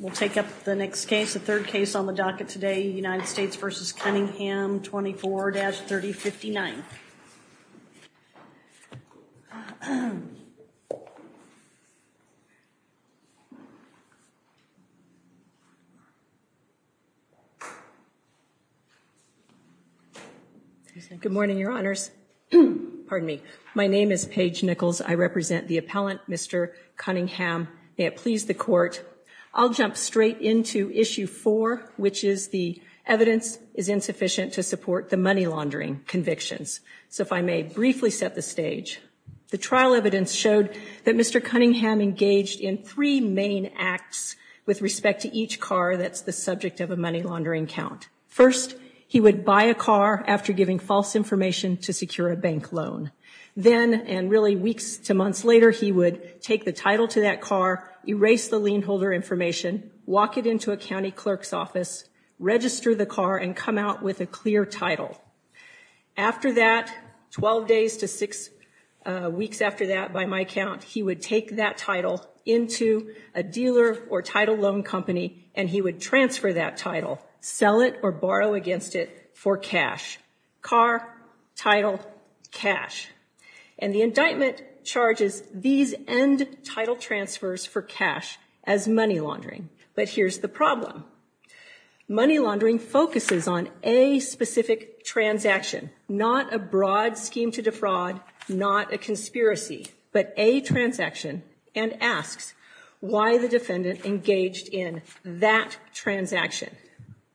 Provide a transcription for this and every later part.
We'll take up the next case, the third case on the docket today, United States v. Cunningham 24-3059. Good morning, Your Honors. Pardon me. My name is Paige Nichols. I represent the appellant, Mr. Cunningham. May it please the Court, I'll jump straight into issue four, which is the evidence is insufficient to support the money laundering convictions. So if I may briefly set the stage, the trial evidence showed that Mr. Cunningham engaged in three main acts with respect to each car that's the subject of a money laundering count. First, he would buy a car after giving false information to secure a bank loan. Then, and really weeks to months later, he would take the title to that car, erase the lien holder information, walk it into a county clerk's office, register the car, and come out with a clear title. After that, 12 days to six weeks after that, by my count, he would take that title into a dealer or title loan company, and he would transfer that title, sell it or borrow against it for cash. Car, title, cash. And the indictment charges these end title transfers for cash as money laundering. But here's the problem. Money laundering focuses on a specific transaction, not a broad scheme to defraud, not a conspiracy, but a transaction, and asks why the defendant engaged in that transaction.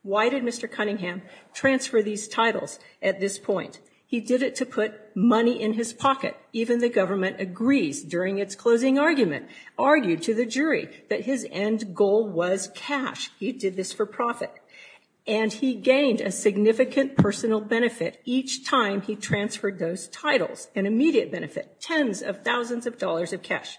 Why did Mr. Cunningham transfer these titles at this point? He did it to put money in his pocket. Even the government agrees during its closing argument, argued to the jury that his end goal was cash. He did this for profit. And he gained a significant personal benefit each time he transferred those titles, an immediate benefit, tens of thousands of dollars of cash.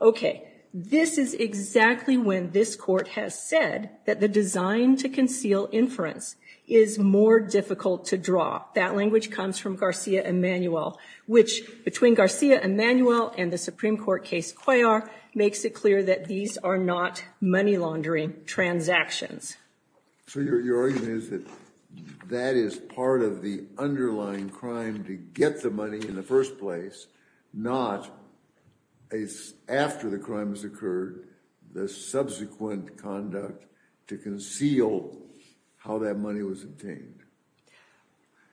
Okay, this is exactly when this court has said that the design to conceal inference is more difficult to draw. That language comes from Garcia Emanuel, which, between Garcia Emanuel and the Supreme Court case Cuellar, makes it clear that these are not money laundering transactions. So your argument is that that is part of the underlying crime to get the money in the first place, not after the crime has occurred, the subsequent conduct to conceal how that money was obtained.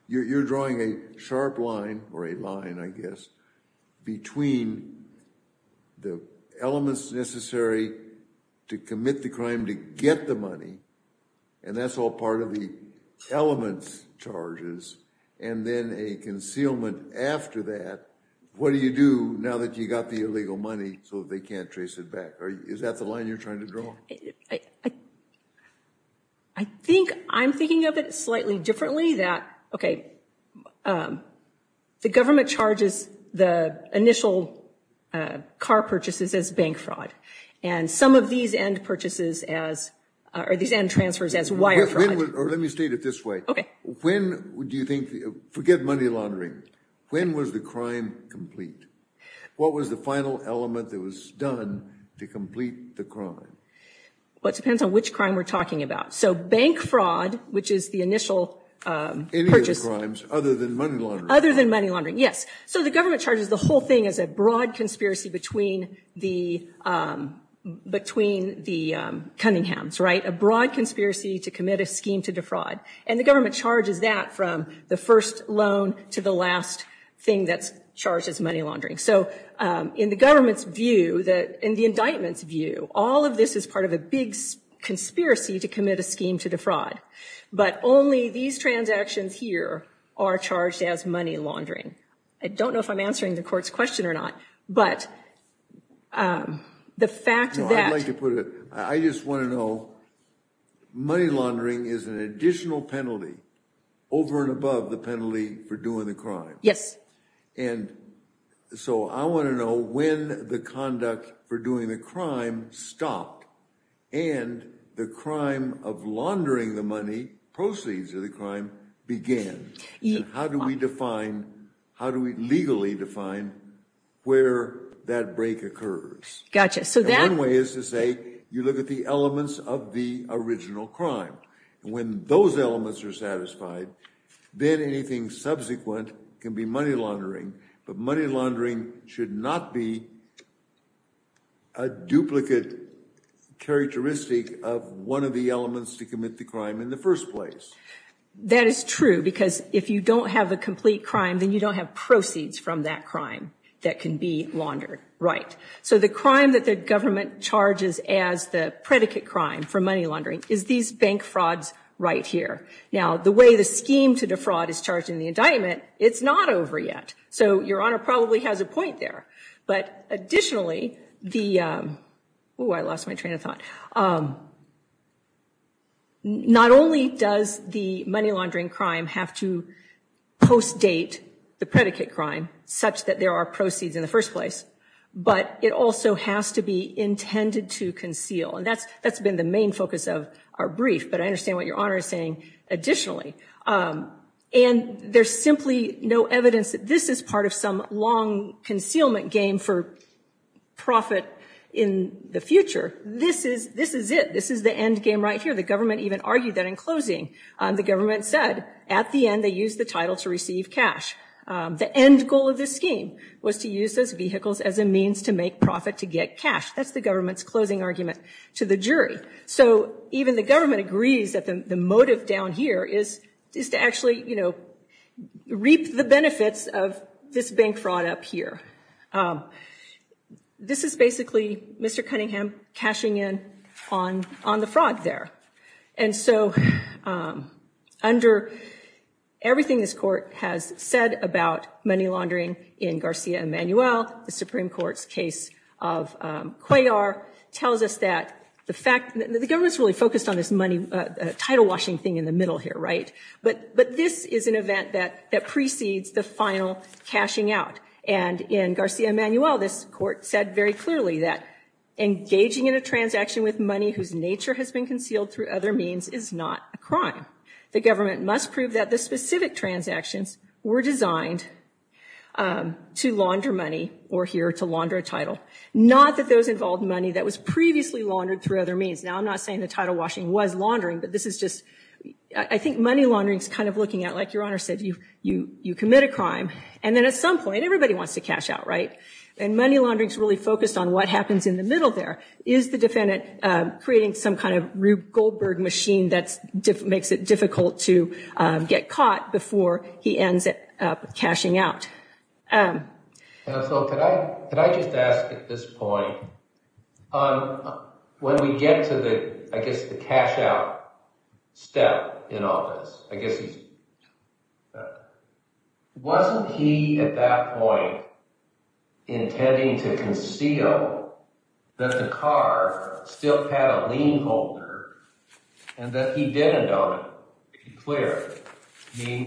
You're drawing a sharp line, or a line I guess, between the elements necessary to commit the crime to get the money, and that's all part of the elements charges, and then a concealment after that. What do you do now that you got the illegal money so they can't trace it back? Is that the line you're trying to draw? I think I'm thinking of it slightly differently that, okay, the government charges the initial car purchases as bank fraud, and some of these end purchases as, or these end transfers as wire fraud. Let me state it this way. Forget money laundering. When was the crime complete? What was the final element that was done to complete the crime? Well, it depends on which crime we're talking about. So bank fraud, which is the initial purchase. Other than money laundering. Yes. So the government charges the whole thing as a broad conspiracy between the Cunninghams, right? A broad conspiracy to commit a scheme to defraud. And the government charges that from the first loan to the last thing that's charged as money laundering. So in the government's view, in the indictment's view, all of this is part of a big conspiracy to commit a scheme to defraud. But only these transactions here are charged as money laundering. I don't know if I'm answering the court's question or not, but the fact that... I'd like to put it, I just want to know, money laundering is an additional penalty over and above the penalty for doing the crime. Yes. And so I want to know when the conduct for doing the crime stopped and the crime of laundering the money, proceeds of the crime, began. How do we define, how do we legally define where that break occurs? Gotcha. So that... you look at the elements of the original crime. And when those elements are satisfied, then anything subsequent can be money laundering. But money laundering should not be a duplicate characteristic of one of the elements to commit the crime in the first place. That is true, because if you don't have a complete crime, then you don't have proceeds from that crime that can be laundered. Right. So the crime that the government charges as the predicate crime for money laundering is these bank frauds right here. Now, the way the scheme to defraud is charged in the indictment, it's not over yet. So Your Honor probably has a point there. But additionally, the... Oh, I lost my train of thought. Not only does the money laundering crime have to post-date the predicate crime such that there are proceeds in the first place, but it also has to be intended to conceal. And that's been the main focus of our brief. But I understand what Your Honor is saying additionally. And there's simply no evidence that this is part of some long concealment game for profit in the future. This is it. This is the end game right here. The government even argued that in closing. The government said at the end they used the title to receive cash. The end goal of this scheme was to use those vehicles as a means to make profit to get cash. That's the government's closing argument to the jury. So even the government agrees that the motive down here is to actually, you know, reap the benefits of this bank fraud up here. This is basically Mr. Cunningham cashing in on the fraud there. And so under everything this court has said about money laundering in Garcia-Emmanuel, the Supreme Court's case of Cuellar tells us that the fact... The government's really focused on this money title washing thing in the middle here, right? But this is an event that precedes the final cashing out. And in Garcia-Emmanuel, this court said very clearly that engaging in a transaction with money whose nature has been concealed through other means is not a crime. The government must prove that the specific transactions were designed to launder money or here to launder a title. Not that those involved money that was previously laundered through other means. Now I'm not saying the title washing was laundering, but this is just... I think money laundering is kind of looking at, like Your Honor said, you commit a crime. And then at some point, everybody wants to cash out, right? And money laundering is really focused on what happens in the middle there. Is the defendant creating some kind of Rube Goldberg machine that makes it difficult to get caught before he ends up cashing out? So could I just ask at this point, when we get to the, I guess, the cash out step in all this, I guess... Wasn't he at that point intending to conceal that the car still had a lien holder and that he didn't own it? To be clear,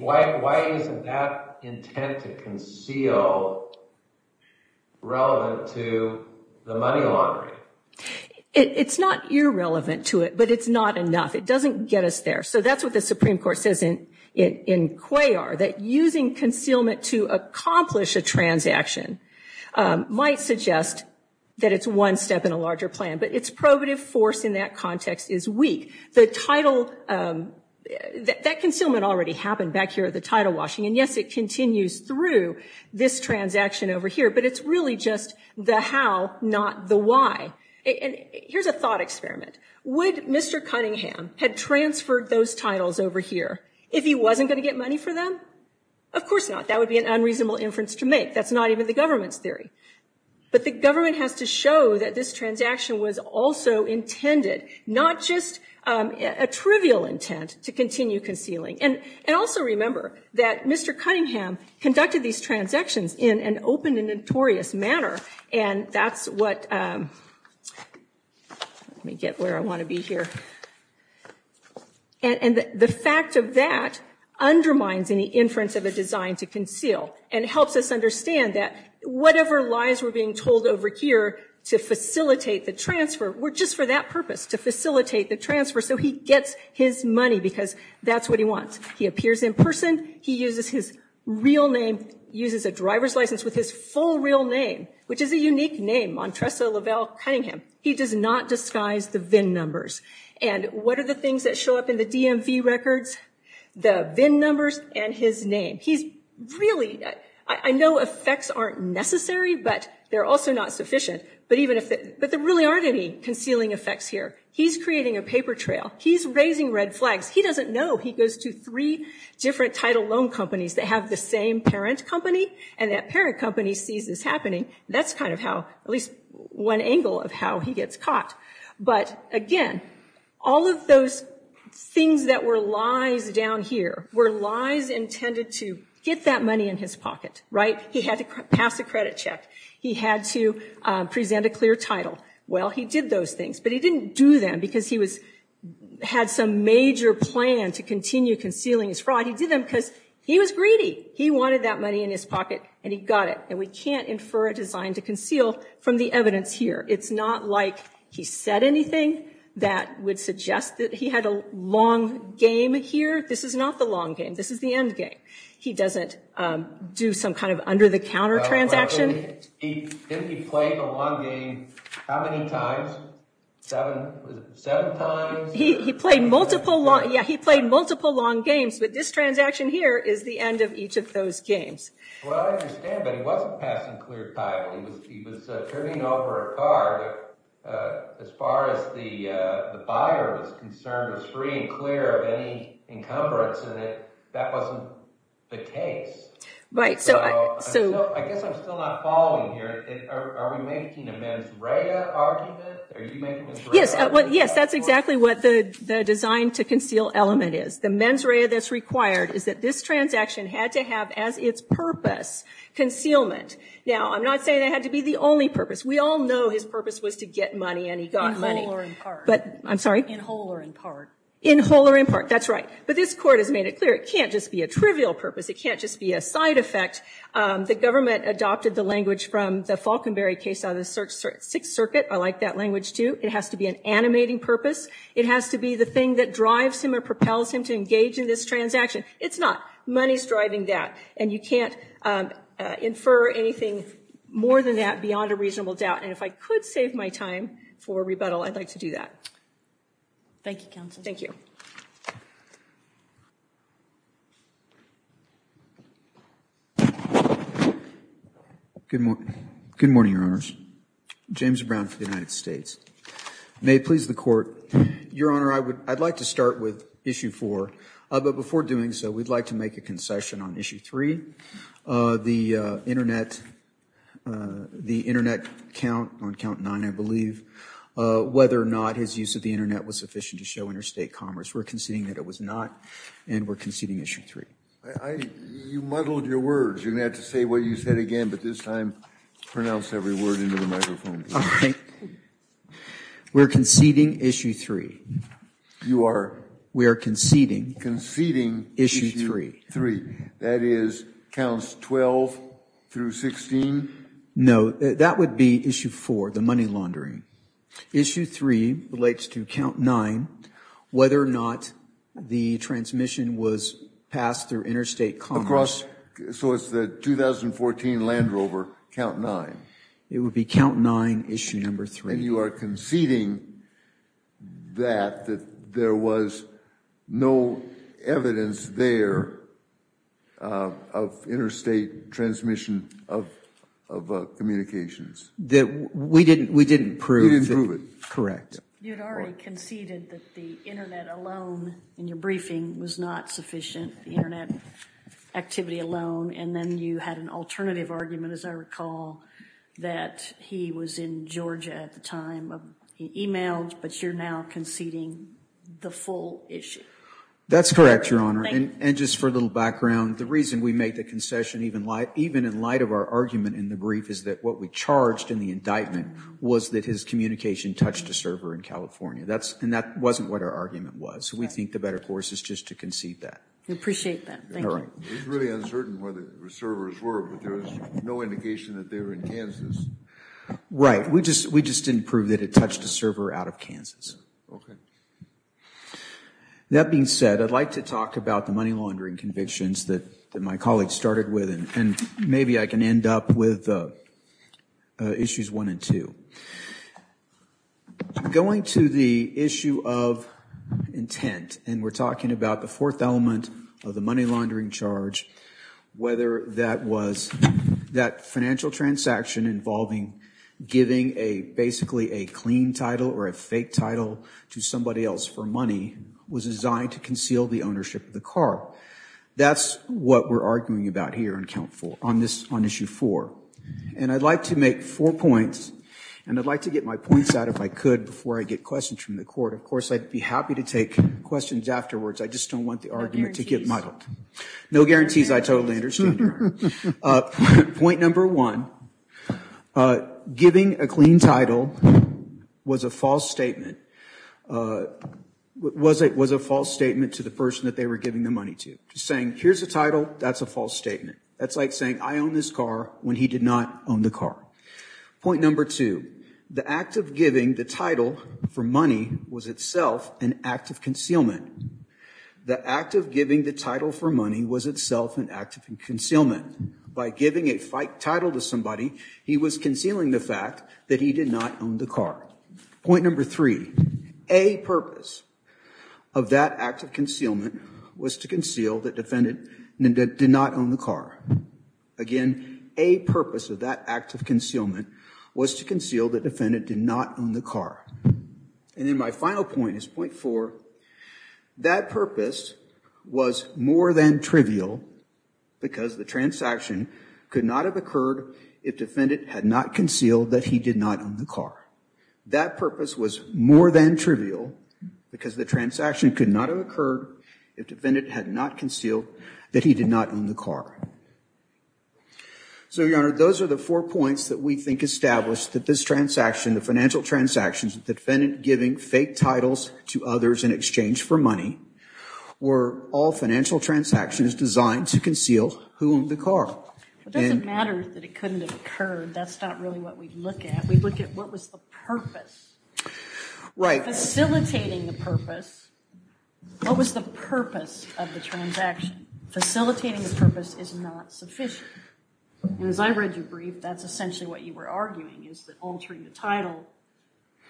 why isn't that intent to conceal relevant to the money laundering? It's not irrelevant to it, but it's not enough. It doesn't get us there. So that's what the Supreme Court says in Cuellar, that using concealment to accomplish a transaction might suggest that it's one step in a larger plan, but its probative force in that context is weak. The title, that concealment already happened back here at the title washing, and yes, it continues through this transaction over here, but it's really just the how, not the why. And here's a thought experiment. Would Mr. Cunningham have transferred those titles over here if he wasn't going to get money for them? Of course not. That would be an unreasonable inference to make. That's not even the government's theory. But the government has to show that this transaction was also intended, not just a trivial intent to continue concealing. And also remember that Mr. Cunningham conducted these transactions in an open and notorious manner, and that's what... Let me get where I want to be here. And the fact of that undermines any inference of a design to conceal and helps us understand that whatever lies were being told over here to facilitate the transfer were just for that purpose, to facilitate the transfer, so he gets his money because that's what he wants. He appears in person, he uses his real name, uses a driver's license with his full real name, which is a unique name, Montresa Lavelle Cunningham. He does not disguise the VIN numbers. And what are the things that show up in the DMV records? The VIN numbers and his name. He's really... I know effects aren't necessary, but they're also not sufficient. But there really aren't any concealing effects here. He's creating a paper trail. He's raising red flags. He doesn't know. He goes to three different title loan companies that have the same parent company, and that parent company sees this happening. That's kind of how, at least one angle of how he gets caught. But, again, all of those things that were lies down here were lies intended to get that money in his pocket, right? He had to pass a credit check. He had to present a clear title. Well, he did those things, but he didn't do them because he had some major plan to continue concealing his fraud. He did them because he was greedy. He wanted that money in his pocket, and he got it. And we can't infer a design to conceal from the evidence here. It's not like he said anything that would suggest that he had a long game here. This is not the long game. This is the end game. He doesn't do some kind of under-the-counter transaction. He played a long game how many times? Seven times? He played multiple long games, but this transaction here is the end of each of those games. Well, I understand, but he wasn't passing clear title. He was turning over a card. As far as the buyer was concerned, it was free and clear of any encumbrance, and that wasn't the case. Right. I guess I'm still not following here. Are we making a mens rea argument? Are you making a mens rea argument? Yes, that's exactly what the design to conceal element is. The mens rea that's required is that this transaction had to have, as its purpose, concealment. Now, I'm not saying it had to be the only purpose. We all know his purpose was to get money, and he got money. In whole or in part. I'm sorry? In whole or in part. In whole or in part. That's right. But this Court has made it clear it can't just be a trivial purpose. It can't just be a side effect. The government adopted the language from the Falkenberry case out of the Sixth Circuit. I like that language, too. It has to be an animating purpose. It has to be the thing that drives him or propels him to engage in this transaction. It's not. Money is driving that. And you can't infer anything more than that beyond a reasonable doubt. And if I could save my time for rebuttal, I'd like to do that. Thank you, Counsel. Thank you. Good morning, Your Honors. James Brown for the United States. May it please the Court. Your Honor, I'd like to start with Issue 4. But before doing so, we'd like to make a concession on Issue 3. The Internet count on count 9, I believe, whether or not his use of the Internet was sufficient to show interstate commerce. We're conceding that it was not, and we're conceding Issue 3. You muddled your words. You're going to have to say what you said again, but this time pronounce every word into the microphone. All right. We're conceding Issue 3. You are? We are conceding. Conceding Issue 3. That is counts 12 through 16? No, that would be Issue 4, the money laundering. Issue 3 relates to count 9, whether or not the transmission was passed through interstate commerce. So it's the 2014 Land Rover, count 9. It would be count 9, Issue 3. And you are conceding that there was no evidence there of interstate transmission of communications? We didn't prove it. You didn't prove it. Correct. You had already conceded that the Internet alone in your briefing was not sufficient, the Internet activity alone, and then you had an alternative argument, as I recall, that he was in Georgia at the time. He emailed, but you're now conceding the full issue. That's correct, Your Honor. And just for a little background, the reason we made the concession, even in light of our argument in the brief, is that what we charged in the indictment was that his communication touched a server in California, and that wasn't what our argument was. So we think the better course is just to concede that. We appreciate that. Thank you. It's really uncertain where the servers were, but there was no indication that they were in Kansas. Right. We just didn't prove that it touched a server out of Kansas. Okay. That being said, I'd like to talk about the money laundering convictions that my colleague started with, and maybe I can end up with Issues 1 and 2. Going to the issue of intent, and we're talking about the fourth element of the money laundering charge, whether that was that financial transaction involving giving basically a clean title or a fake title to somebody else for money was designed to conceal the ownership of the car. That's what we're arguing about here on Issue 4. And I'd like to make four points, and I'd like to get my points out if I could before I get questions from the court. Of course, I'd be happy to take questions afterwards. I just don't want the argument to get muddled. No guarantees. No guarantees. I totally understand. Point number one, giving a clean title was a false statement. It was a false statement to the person that they were giving the money to. Just saying, here's the title, that's a false statement. That's like saying, I own this car, when he did not own the car. Point number two, the act of giving the title for money was itself an act of concealment. The act of giving the title for money was itself an act of concealment. By giving a fake title to somebody, he was concealing the fact that he did not own the car. Point number three, a purpose of that act of concealment was to conceal that the defendant did not own the car. Again, a purpose of that act of concealment was to conceal that the defendant did not own the car. And then my final point is point four. That purpose was more than trivial because the transaction could not have occurred if defendant had not concealed that he did not own the car. That purpose was more than trivial because the transaction could not have occurred if defendant had not concealed that he did not own the car. So, Your Honor, those are the four points that we think establish that this transaction, the financial transactions, the defendant giving fake titles to others in exchange for money, were all financial transactions designed to conceal who owned the car. It doesn't matter that it couldn't have occurred. That's not really what we look at. We look at what was the purpose. Right. Facilitating the purpose, what was the purpose of the transaction? Facilitating the purpose is not sufficient. As I read your brief, that's essentially what you were arguing is that altering the title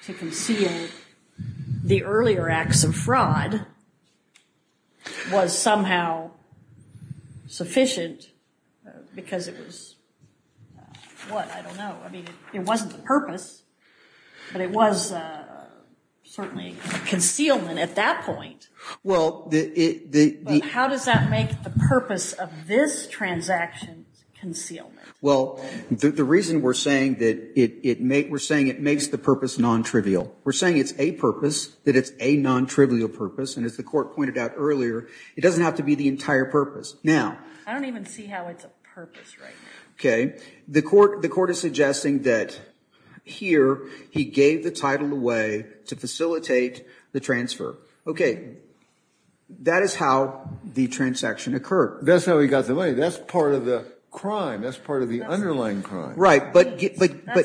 to conceal the earlier acts of fraud was somehow sufficient because it was, what, I don't know. I mean, it wasn't the purpose, but it was certainly concealment at that point. How does that make the purpose of this transaction concealment? Well, the reason we're saying that it makes the purpose non-trivial. We're saying it's a purpose, that it's a non-trivial purpose, and as the Court pointed out earlier, it doesn't have to be the entire purpose. I don't even see how it's a purpose right now. Okay. The Court is suggesting that here he gave the title away to facilitate the transfer. Okay. That is how the transaction occurred. That's how he got the money. That's part of the crime. That's part of the underlying crime. Right. That's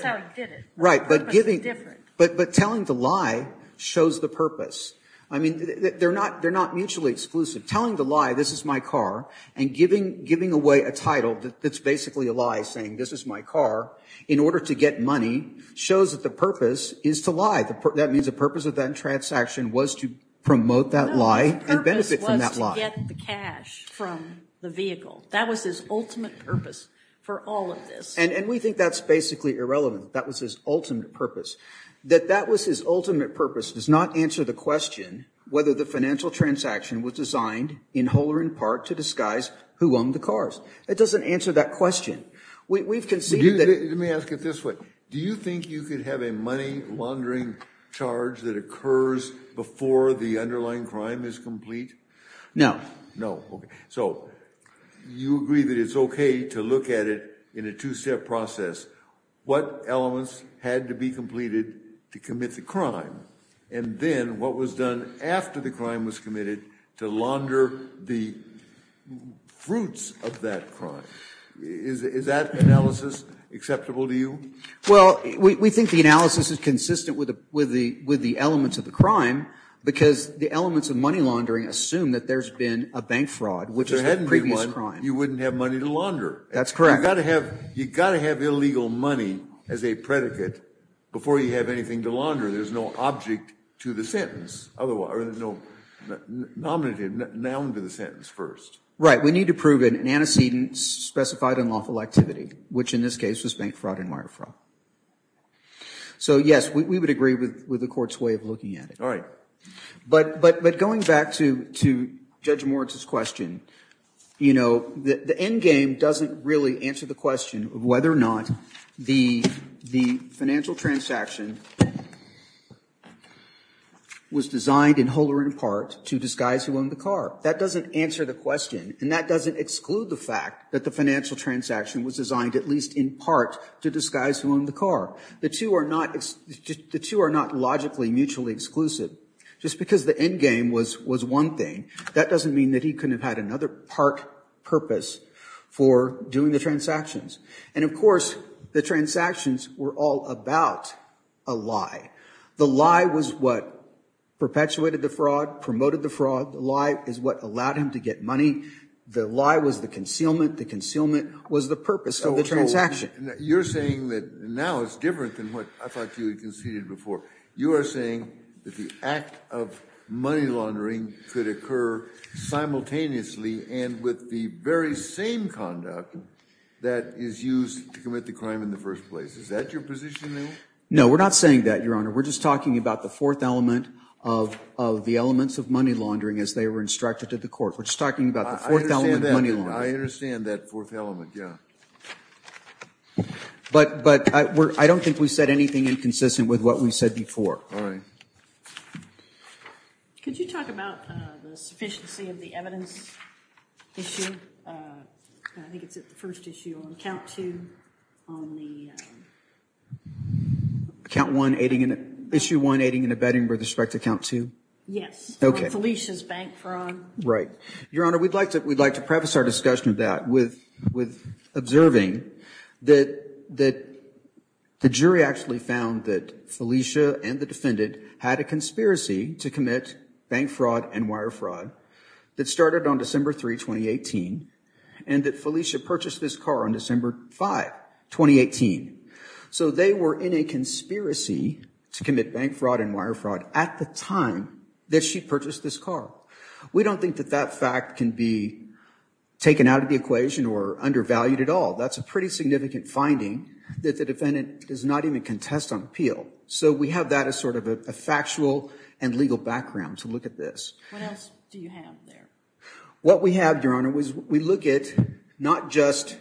how he did it. Right. But telling the lie shows the purpose. I mean, they're not mutually exclusive. Telling the lie, this is my car, and giving away a title that's basically a lie saying this is my car in order to get money shows that the purpose is to lie. That means the purpose of that transaction was to promote that lie and benefit from that lie. No, the purpose was to get the cash from the vehicle. That was his ultimate purpose for all of this. And we think that's basically irrelevant. That was his ultimate purpose. That that was his ultimate purpose does not answer the question whether the financial transaction was designed in whole or in part to disguise who owned the cars. It doesn't answer that question. Let me ask it this way. Do you think you could have a money laundering charge that occurs before the underlying crime is complete? No. No. Okay. So you agree that it's okay to look at it in a two-step process. What elements had to be completed to commit the crime? And then what was done after the crime was committed to launder the fruits of that crime? Is that analysis acceptable to you? Well, we think the analysis is consistent with the elements of the crime because the elements of money laundering assume that there's been a bank fraud, which is a previous crime. If there hadn't been one, you wouldn't have money to launder. That's correct. You've got to have illegal money as a predicate before you have anything to launder. There's no object to the sentence. There's no nominative noun to the sentence first. Right. We need to prove an antecedent specified unlawful activity, which in this case was bank fraud and wire fraud. So, yes, we would agree with the court's way of looking at it. All right. But going back to Judge Moritz's question, you know, the end game doesn't really answer the question of whether or not the financial transaction was designed in whole or in part to disguise who owned the car. That doesn't answer the question, and that doesn't exclude the fact that the financial transaction was designed at least in part to disguise who owned the car. The two are not logically mutually exclusive. Just because the end game was one thing, that doesn't mean that he couldn't have had another part purpose for doing the transactions. And, of course, the transactions were all about a lie. The lie was what perpetuated the fraud, promoted the fraud. The lie is what allowed him to get money. The lie was the concealment. The concealment was the purpose of the transaction. You're saying that now it's different than what I thought you had conceded before. You are saying that the act of money laundering could occur simultaneously and with the very same conduct that is used to commit the crime in the first place. Is that your position, then? No, we're not saying that, Your Honor. We're just talking about the fourth element of the elements of money laundering as they were instructed to the court. We're just talking about the fourth element of money laundering. I understand that fourth element, yeah. But I don't think we said anything inconsistent with what we said before. All right. Could you talk about the sufficiency of the evidence issue? I think it's the first issue on account two. Issue one aiding and abetting with respect to account two? Yes. Okay. On Felicia's bank fraud. Right. Your Honor, we'd like to preface our discussion of that with observing that the jury actually found that Felicia and the defendant had a conspiracy to commit bank fraud and wire fraud that started on December 3, 2018, and that Felicia purchased this car on December 5, 2018. So they were in a conspiracy to commit bank fraud and wire fraud at the time that she purchased this car. We don't think that that fact can be taken out of the equation or undervalued at all. That's a pretty significant finding that the defendant does not even contest on appeal. So we have that as sort of a factual and legal background to look at this. What else do you have there? What we have, Your Honor, is we look at not just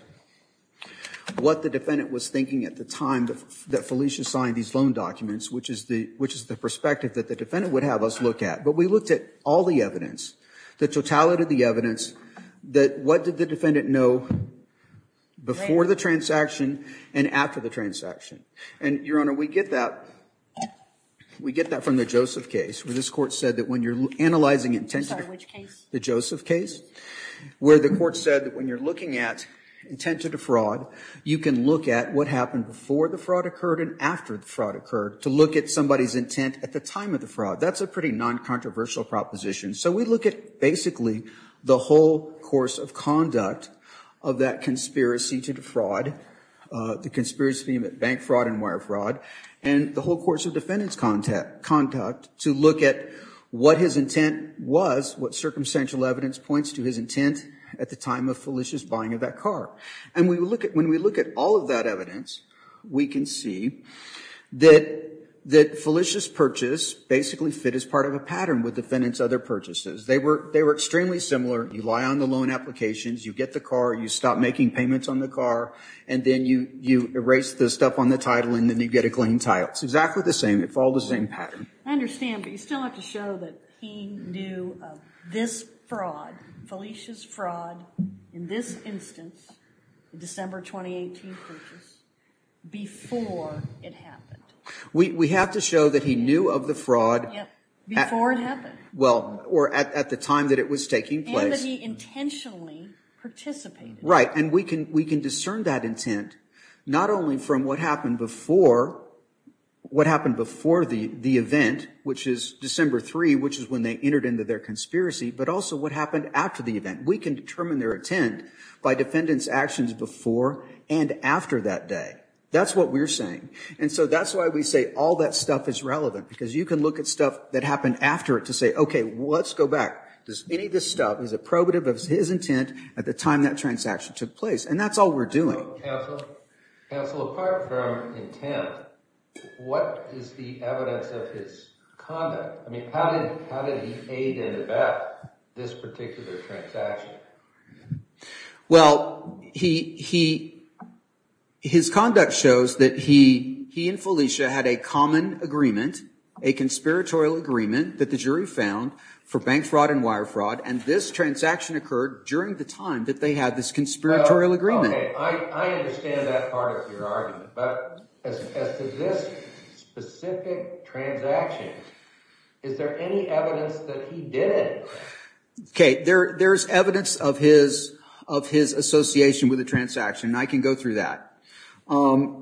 what the defendant was thinking at the time that Felicia signed these loan documents, which is the perspective that the defendant would have us look at, but we looked at all the evidence, the totality of the evidence, that what did the defendant know before the transaction and after the transaction. And, Your Honor, we get that from the Joseph case, where this court said that when you're analyzing intent— I'm sorry, which case? The Joseph case, where the court said that when you're looking at intent to defraud, you can look at what happened before the fraud occurred and after the fraud occurred to look at somebody's intent at the time of the fraud. That's a pretty non-controversial proposition. So we look at basically the whole course of conduct of that conspiracy to defraud, the conspiracy of bank fraud and wire fraud, and the whole course of defendant's conduct to look at what his intent was, what circumstantial evidence points to his intent at the time of Felicia's buying of that car. And when we look at all of that evidence, we can see that Felicia's purchase basically fit as part of a pattern with the defendant's other purchases. They were extremely similar. You lie on the loan applications, you get the car, you stop making payments on the car, and then you erase the stuff on the title, and then you get a clean title. It's exactly the same. It follows the same pattern. I understand, but you still have to show that he knew of this fraud, Felicia's fraud, in this instance, December 2018 purchase, before it happened. We have to show that he knew of the fraud. Before it happened. Well, or at the time that it was taking place. And that he intentionally participated. Right. And we can discern that intent not only from what happened before the event, which is December 3, which is when they entered into their conspiracy, but also what happened after the event. We can determine their intent by defendant's actions before and after that day. That's what we're saying. And so that's why we say all that stuff is relevant, because you can look at stuff that happened after it to say, okay, let's go back. Any of this stuff is approbative of his intent at the time that transaction took place. And that's all we're doing. Counsel, apart from intent, what is the evidence of his conduct? I mean, how did he aid and abet this particular transaction? Well, his conduct shows that he and Felicia had a common agreement. A conspiratorial agreement that the jury found for bank fraud and wire fraud. And this transaction occurred during the time that they had this conspiratorial agreement. I understand that part of your argument. But as to this specific transaction, is there any evidence that he did it? Okay, there's evidence of his association with the transaction, and I can go through that.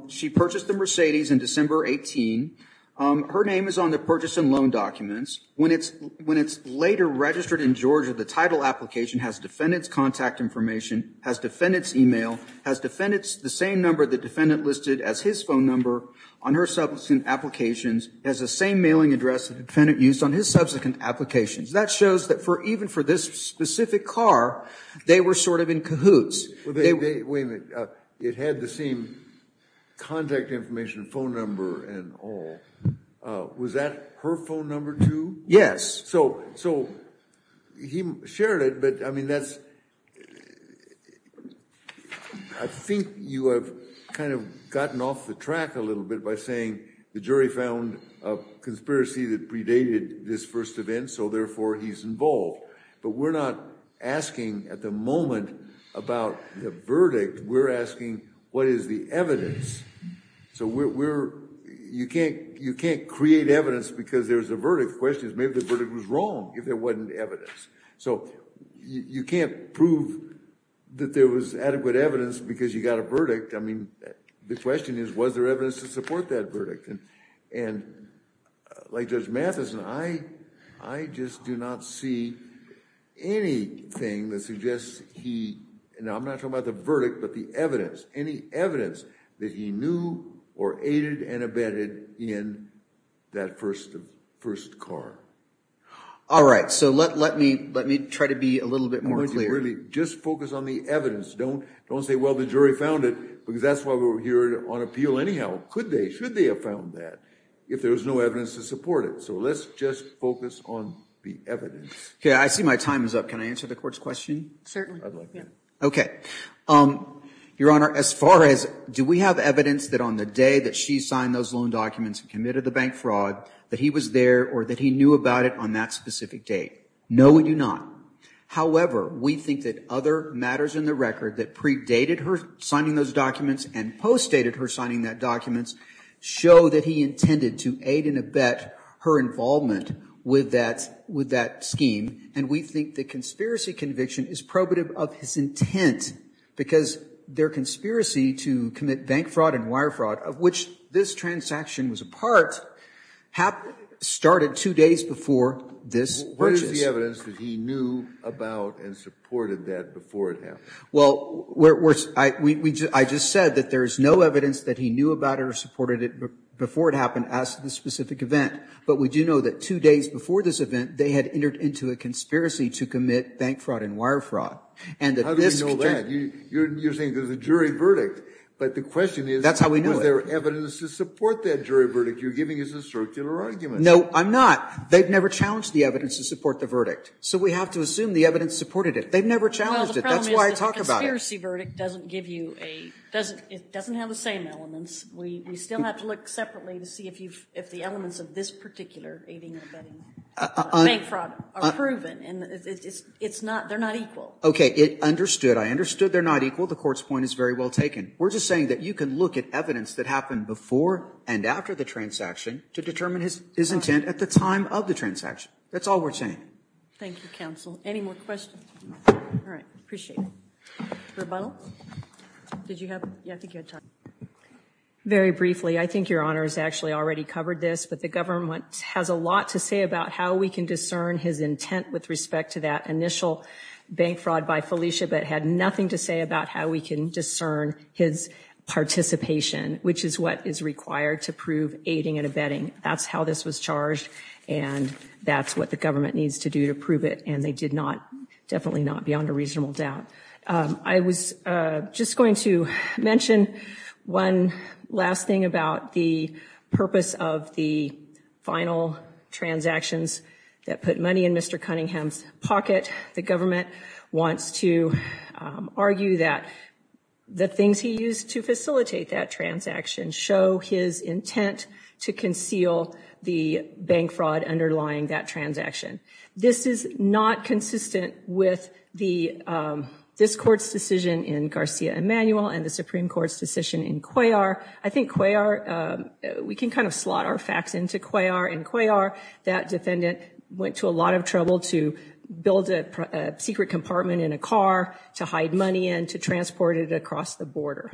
She purchased the Mercedes in December 18. Her name is on the purchase and loan documents. When it's later registered in Georgia, the title application has defendant's contact information, has defendant's e-mail, has defendant's the same number the defendant listed as his phone number on her subsequent applications, has the same mailing address the defendant used on his subsequent applications. That shows that even for this specific car, they were sort of in cahoots. Wait a minute. It had the same contact information, phone number and all. Was that her phone number, too? Yes. So he shared it, but, I mean, that's – I think you have kind of gotten off the track a little bit by saying the jury found a conspiracy that predated this first event, so therefore he's involved. But we're not asking at the moment about the verdict. We're asking what is the evidence. So we're – you can't create evidence because there's a verdict. The question is maybe the verdict was wrong if there wasn't evidence. So you can't prove that there was adequate evidence because you got a verdict. I mean, the question is was there evidence to support that verdict. And like Judge Matheson, I just do not see anything that suggests he – and I'm not talking about the verdict, but the evidence, any evidence that he knew or aided and abetted in that first car. All right. So let me try to be a little bit more clear. Just focus on the evidence. Don't say, well, the jury found it because that's why we're here on appeal anyhow. Could they? Should they have found that if there was no evidence to support it? So let's just focus on the evidence. Okay. I see my time is up. Can I answer the court's question? Okay. Your Honor, as far as do we have evidence that on the day that she signed those loan documents and committed the bank fraud that he was there or that he knew about it on that specific date? No, we do not. However, we think that other matters in the record that predated her signing those documents and postdated her signing those documents show that he intended to aid and abet her involvement with that scheme. And we think the conspiracy conviction is probative of his intent because their conspiracy to commit bank fraud and wire fraud, of which this transaction was a part, started two days before this. What is the evidence that he knew about and supported that before it happened? Well, I just said that there is no evidence that he knew about it or supported it before it happened as to the specific event. But we do know that two days before this event, they had entered into a conspiracy to commit bank fraud and wire fraud. How do we know that? You're saying there's a jury verdict. But the question is, was there evidence to support that jury verdict? You're giving us a circular argument. No, I'm not. They've never challenged the evidence to support the verdict. So we have to assume the evidence supported it. They've never challenged it. That's why I talk about it. Well, the problem is that the conspiracy verdict doesn't give you a – it doesn't have the same elements. We still have to look separately to see if the elements of this particular aiding and abetting bank fraud are proven. And it's not – they're not equal. Okay. It understood. I understood they're not equal. The Court's point is very well taken. We're just saying that you can look at evidence that happened before and after the transaction to determine his intent at the time of the transaction. That's all we're saying. Thank you, counsel. Any more questions? All right. Appreciate it. Rebuttal? Did you have – yeah, I think you had time. Very briefly, I think Your Honor has actually already covered this, but the government has a lot to say about how we can discern his intent with respect to that initial bank fraud by Felicia, but had nothing to say about how we can discern his participation, which is what is required to prove aiding and abetting. That's how this was charged, and that's what the government needs to do to prove it, and they did not – definitely not beyond a reasonable doubt. I was just going to mention one last thing about the purpose of the final transactions that put money in Mr. Cunningham's pocket. The government wants to argue that the things he used to facilitate that transaction show his intent to conceal the bank fraud underlying that transaction. This is not consistent with this Court's decision in Garcia-Emmanuel and the Supreme Court's decision in Cuellar. I think Cuellar – we can kind of slot our facts into Cuellar. That defendant went to a lot of trouble to build a secret compartment in a car to hide money in, to transport it across the border.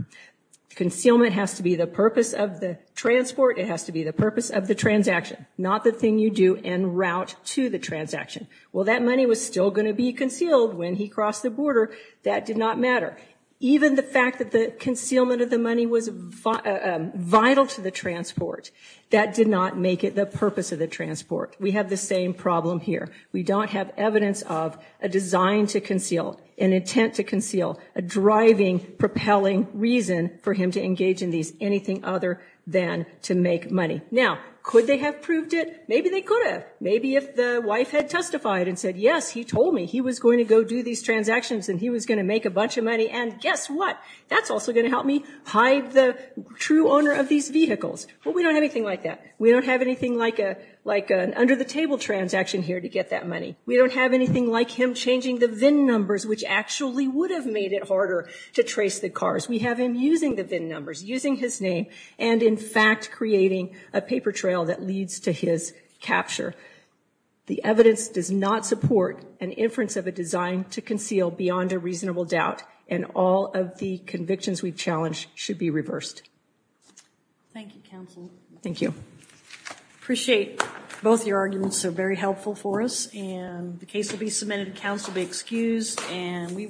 Concealment has to be the purpose of the transport. It has to be the purpose of the transaction, not the thing you do en route to the transaction. Well, that money was still going to be concealed when he crossed the border. That did not matter. Even the fact that the concealment of the money was vital to the transport, that did not make it the purpose of the transport. We have the same problem here. We don't have evidence of a design to conceal, an intent to conceal, a driving, propelling reason for him to engage in these, anything other than to make money. Now, could they have proved it? Maybe they could have. Maybe if the wife had testified and said, yes, he told me, he was going to go do these transactions and he was going to make a bunch of money, and guess what? That's also going to help me hide the true owner of these vehicles. Well, we don't have anything like that. We don't have anything like an under-the-table transaction here to get that money. We don't have anything like him changing the VIN numbers, which actually would have made it harder to trace the cars. We have him using the VIN numbers, using his name, and in fact creating a paper trail that leads to his capture. The evidence does not support an inference of a design to conceal beyond a reasonable doubt, and all of the convictions we've challenged should be reversed. Thank you, Counsel. Thank you. I appreciate both your arguments. They're very helpful for us, and the case will be submitted. Counsel will be excused, and we will.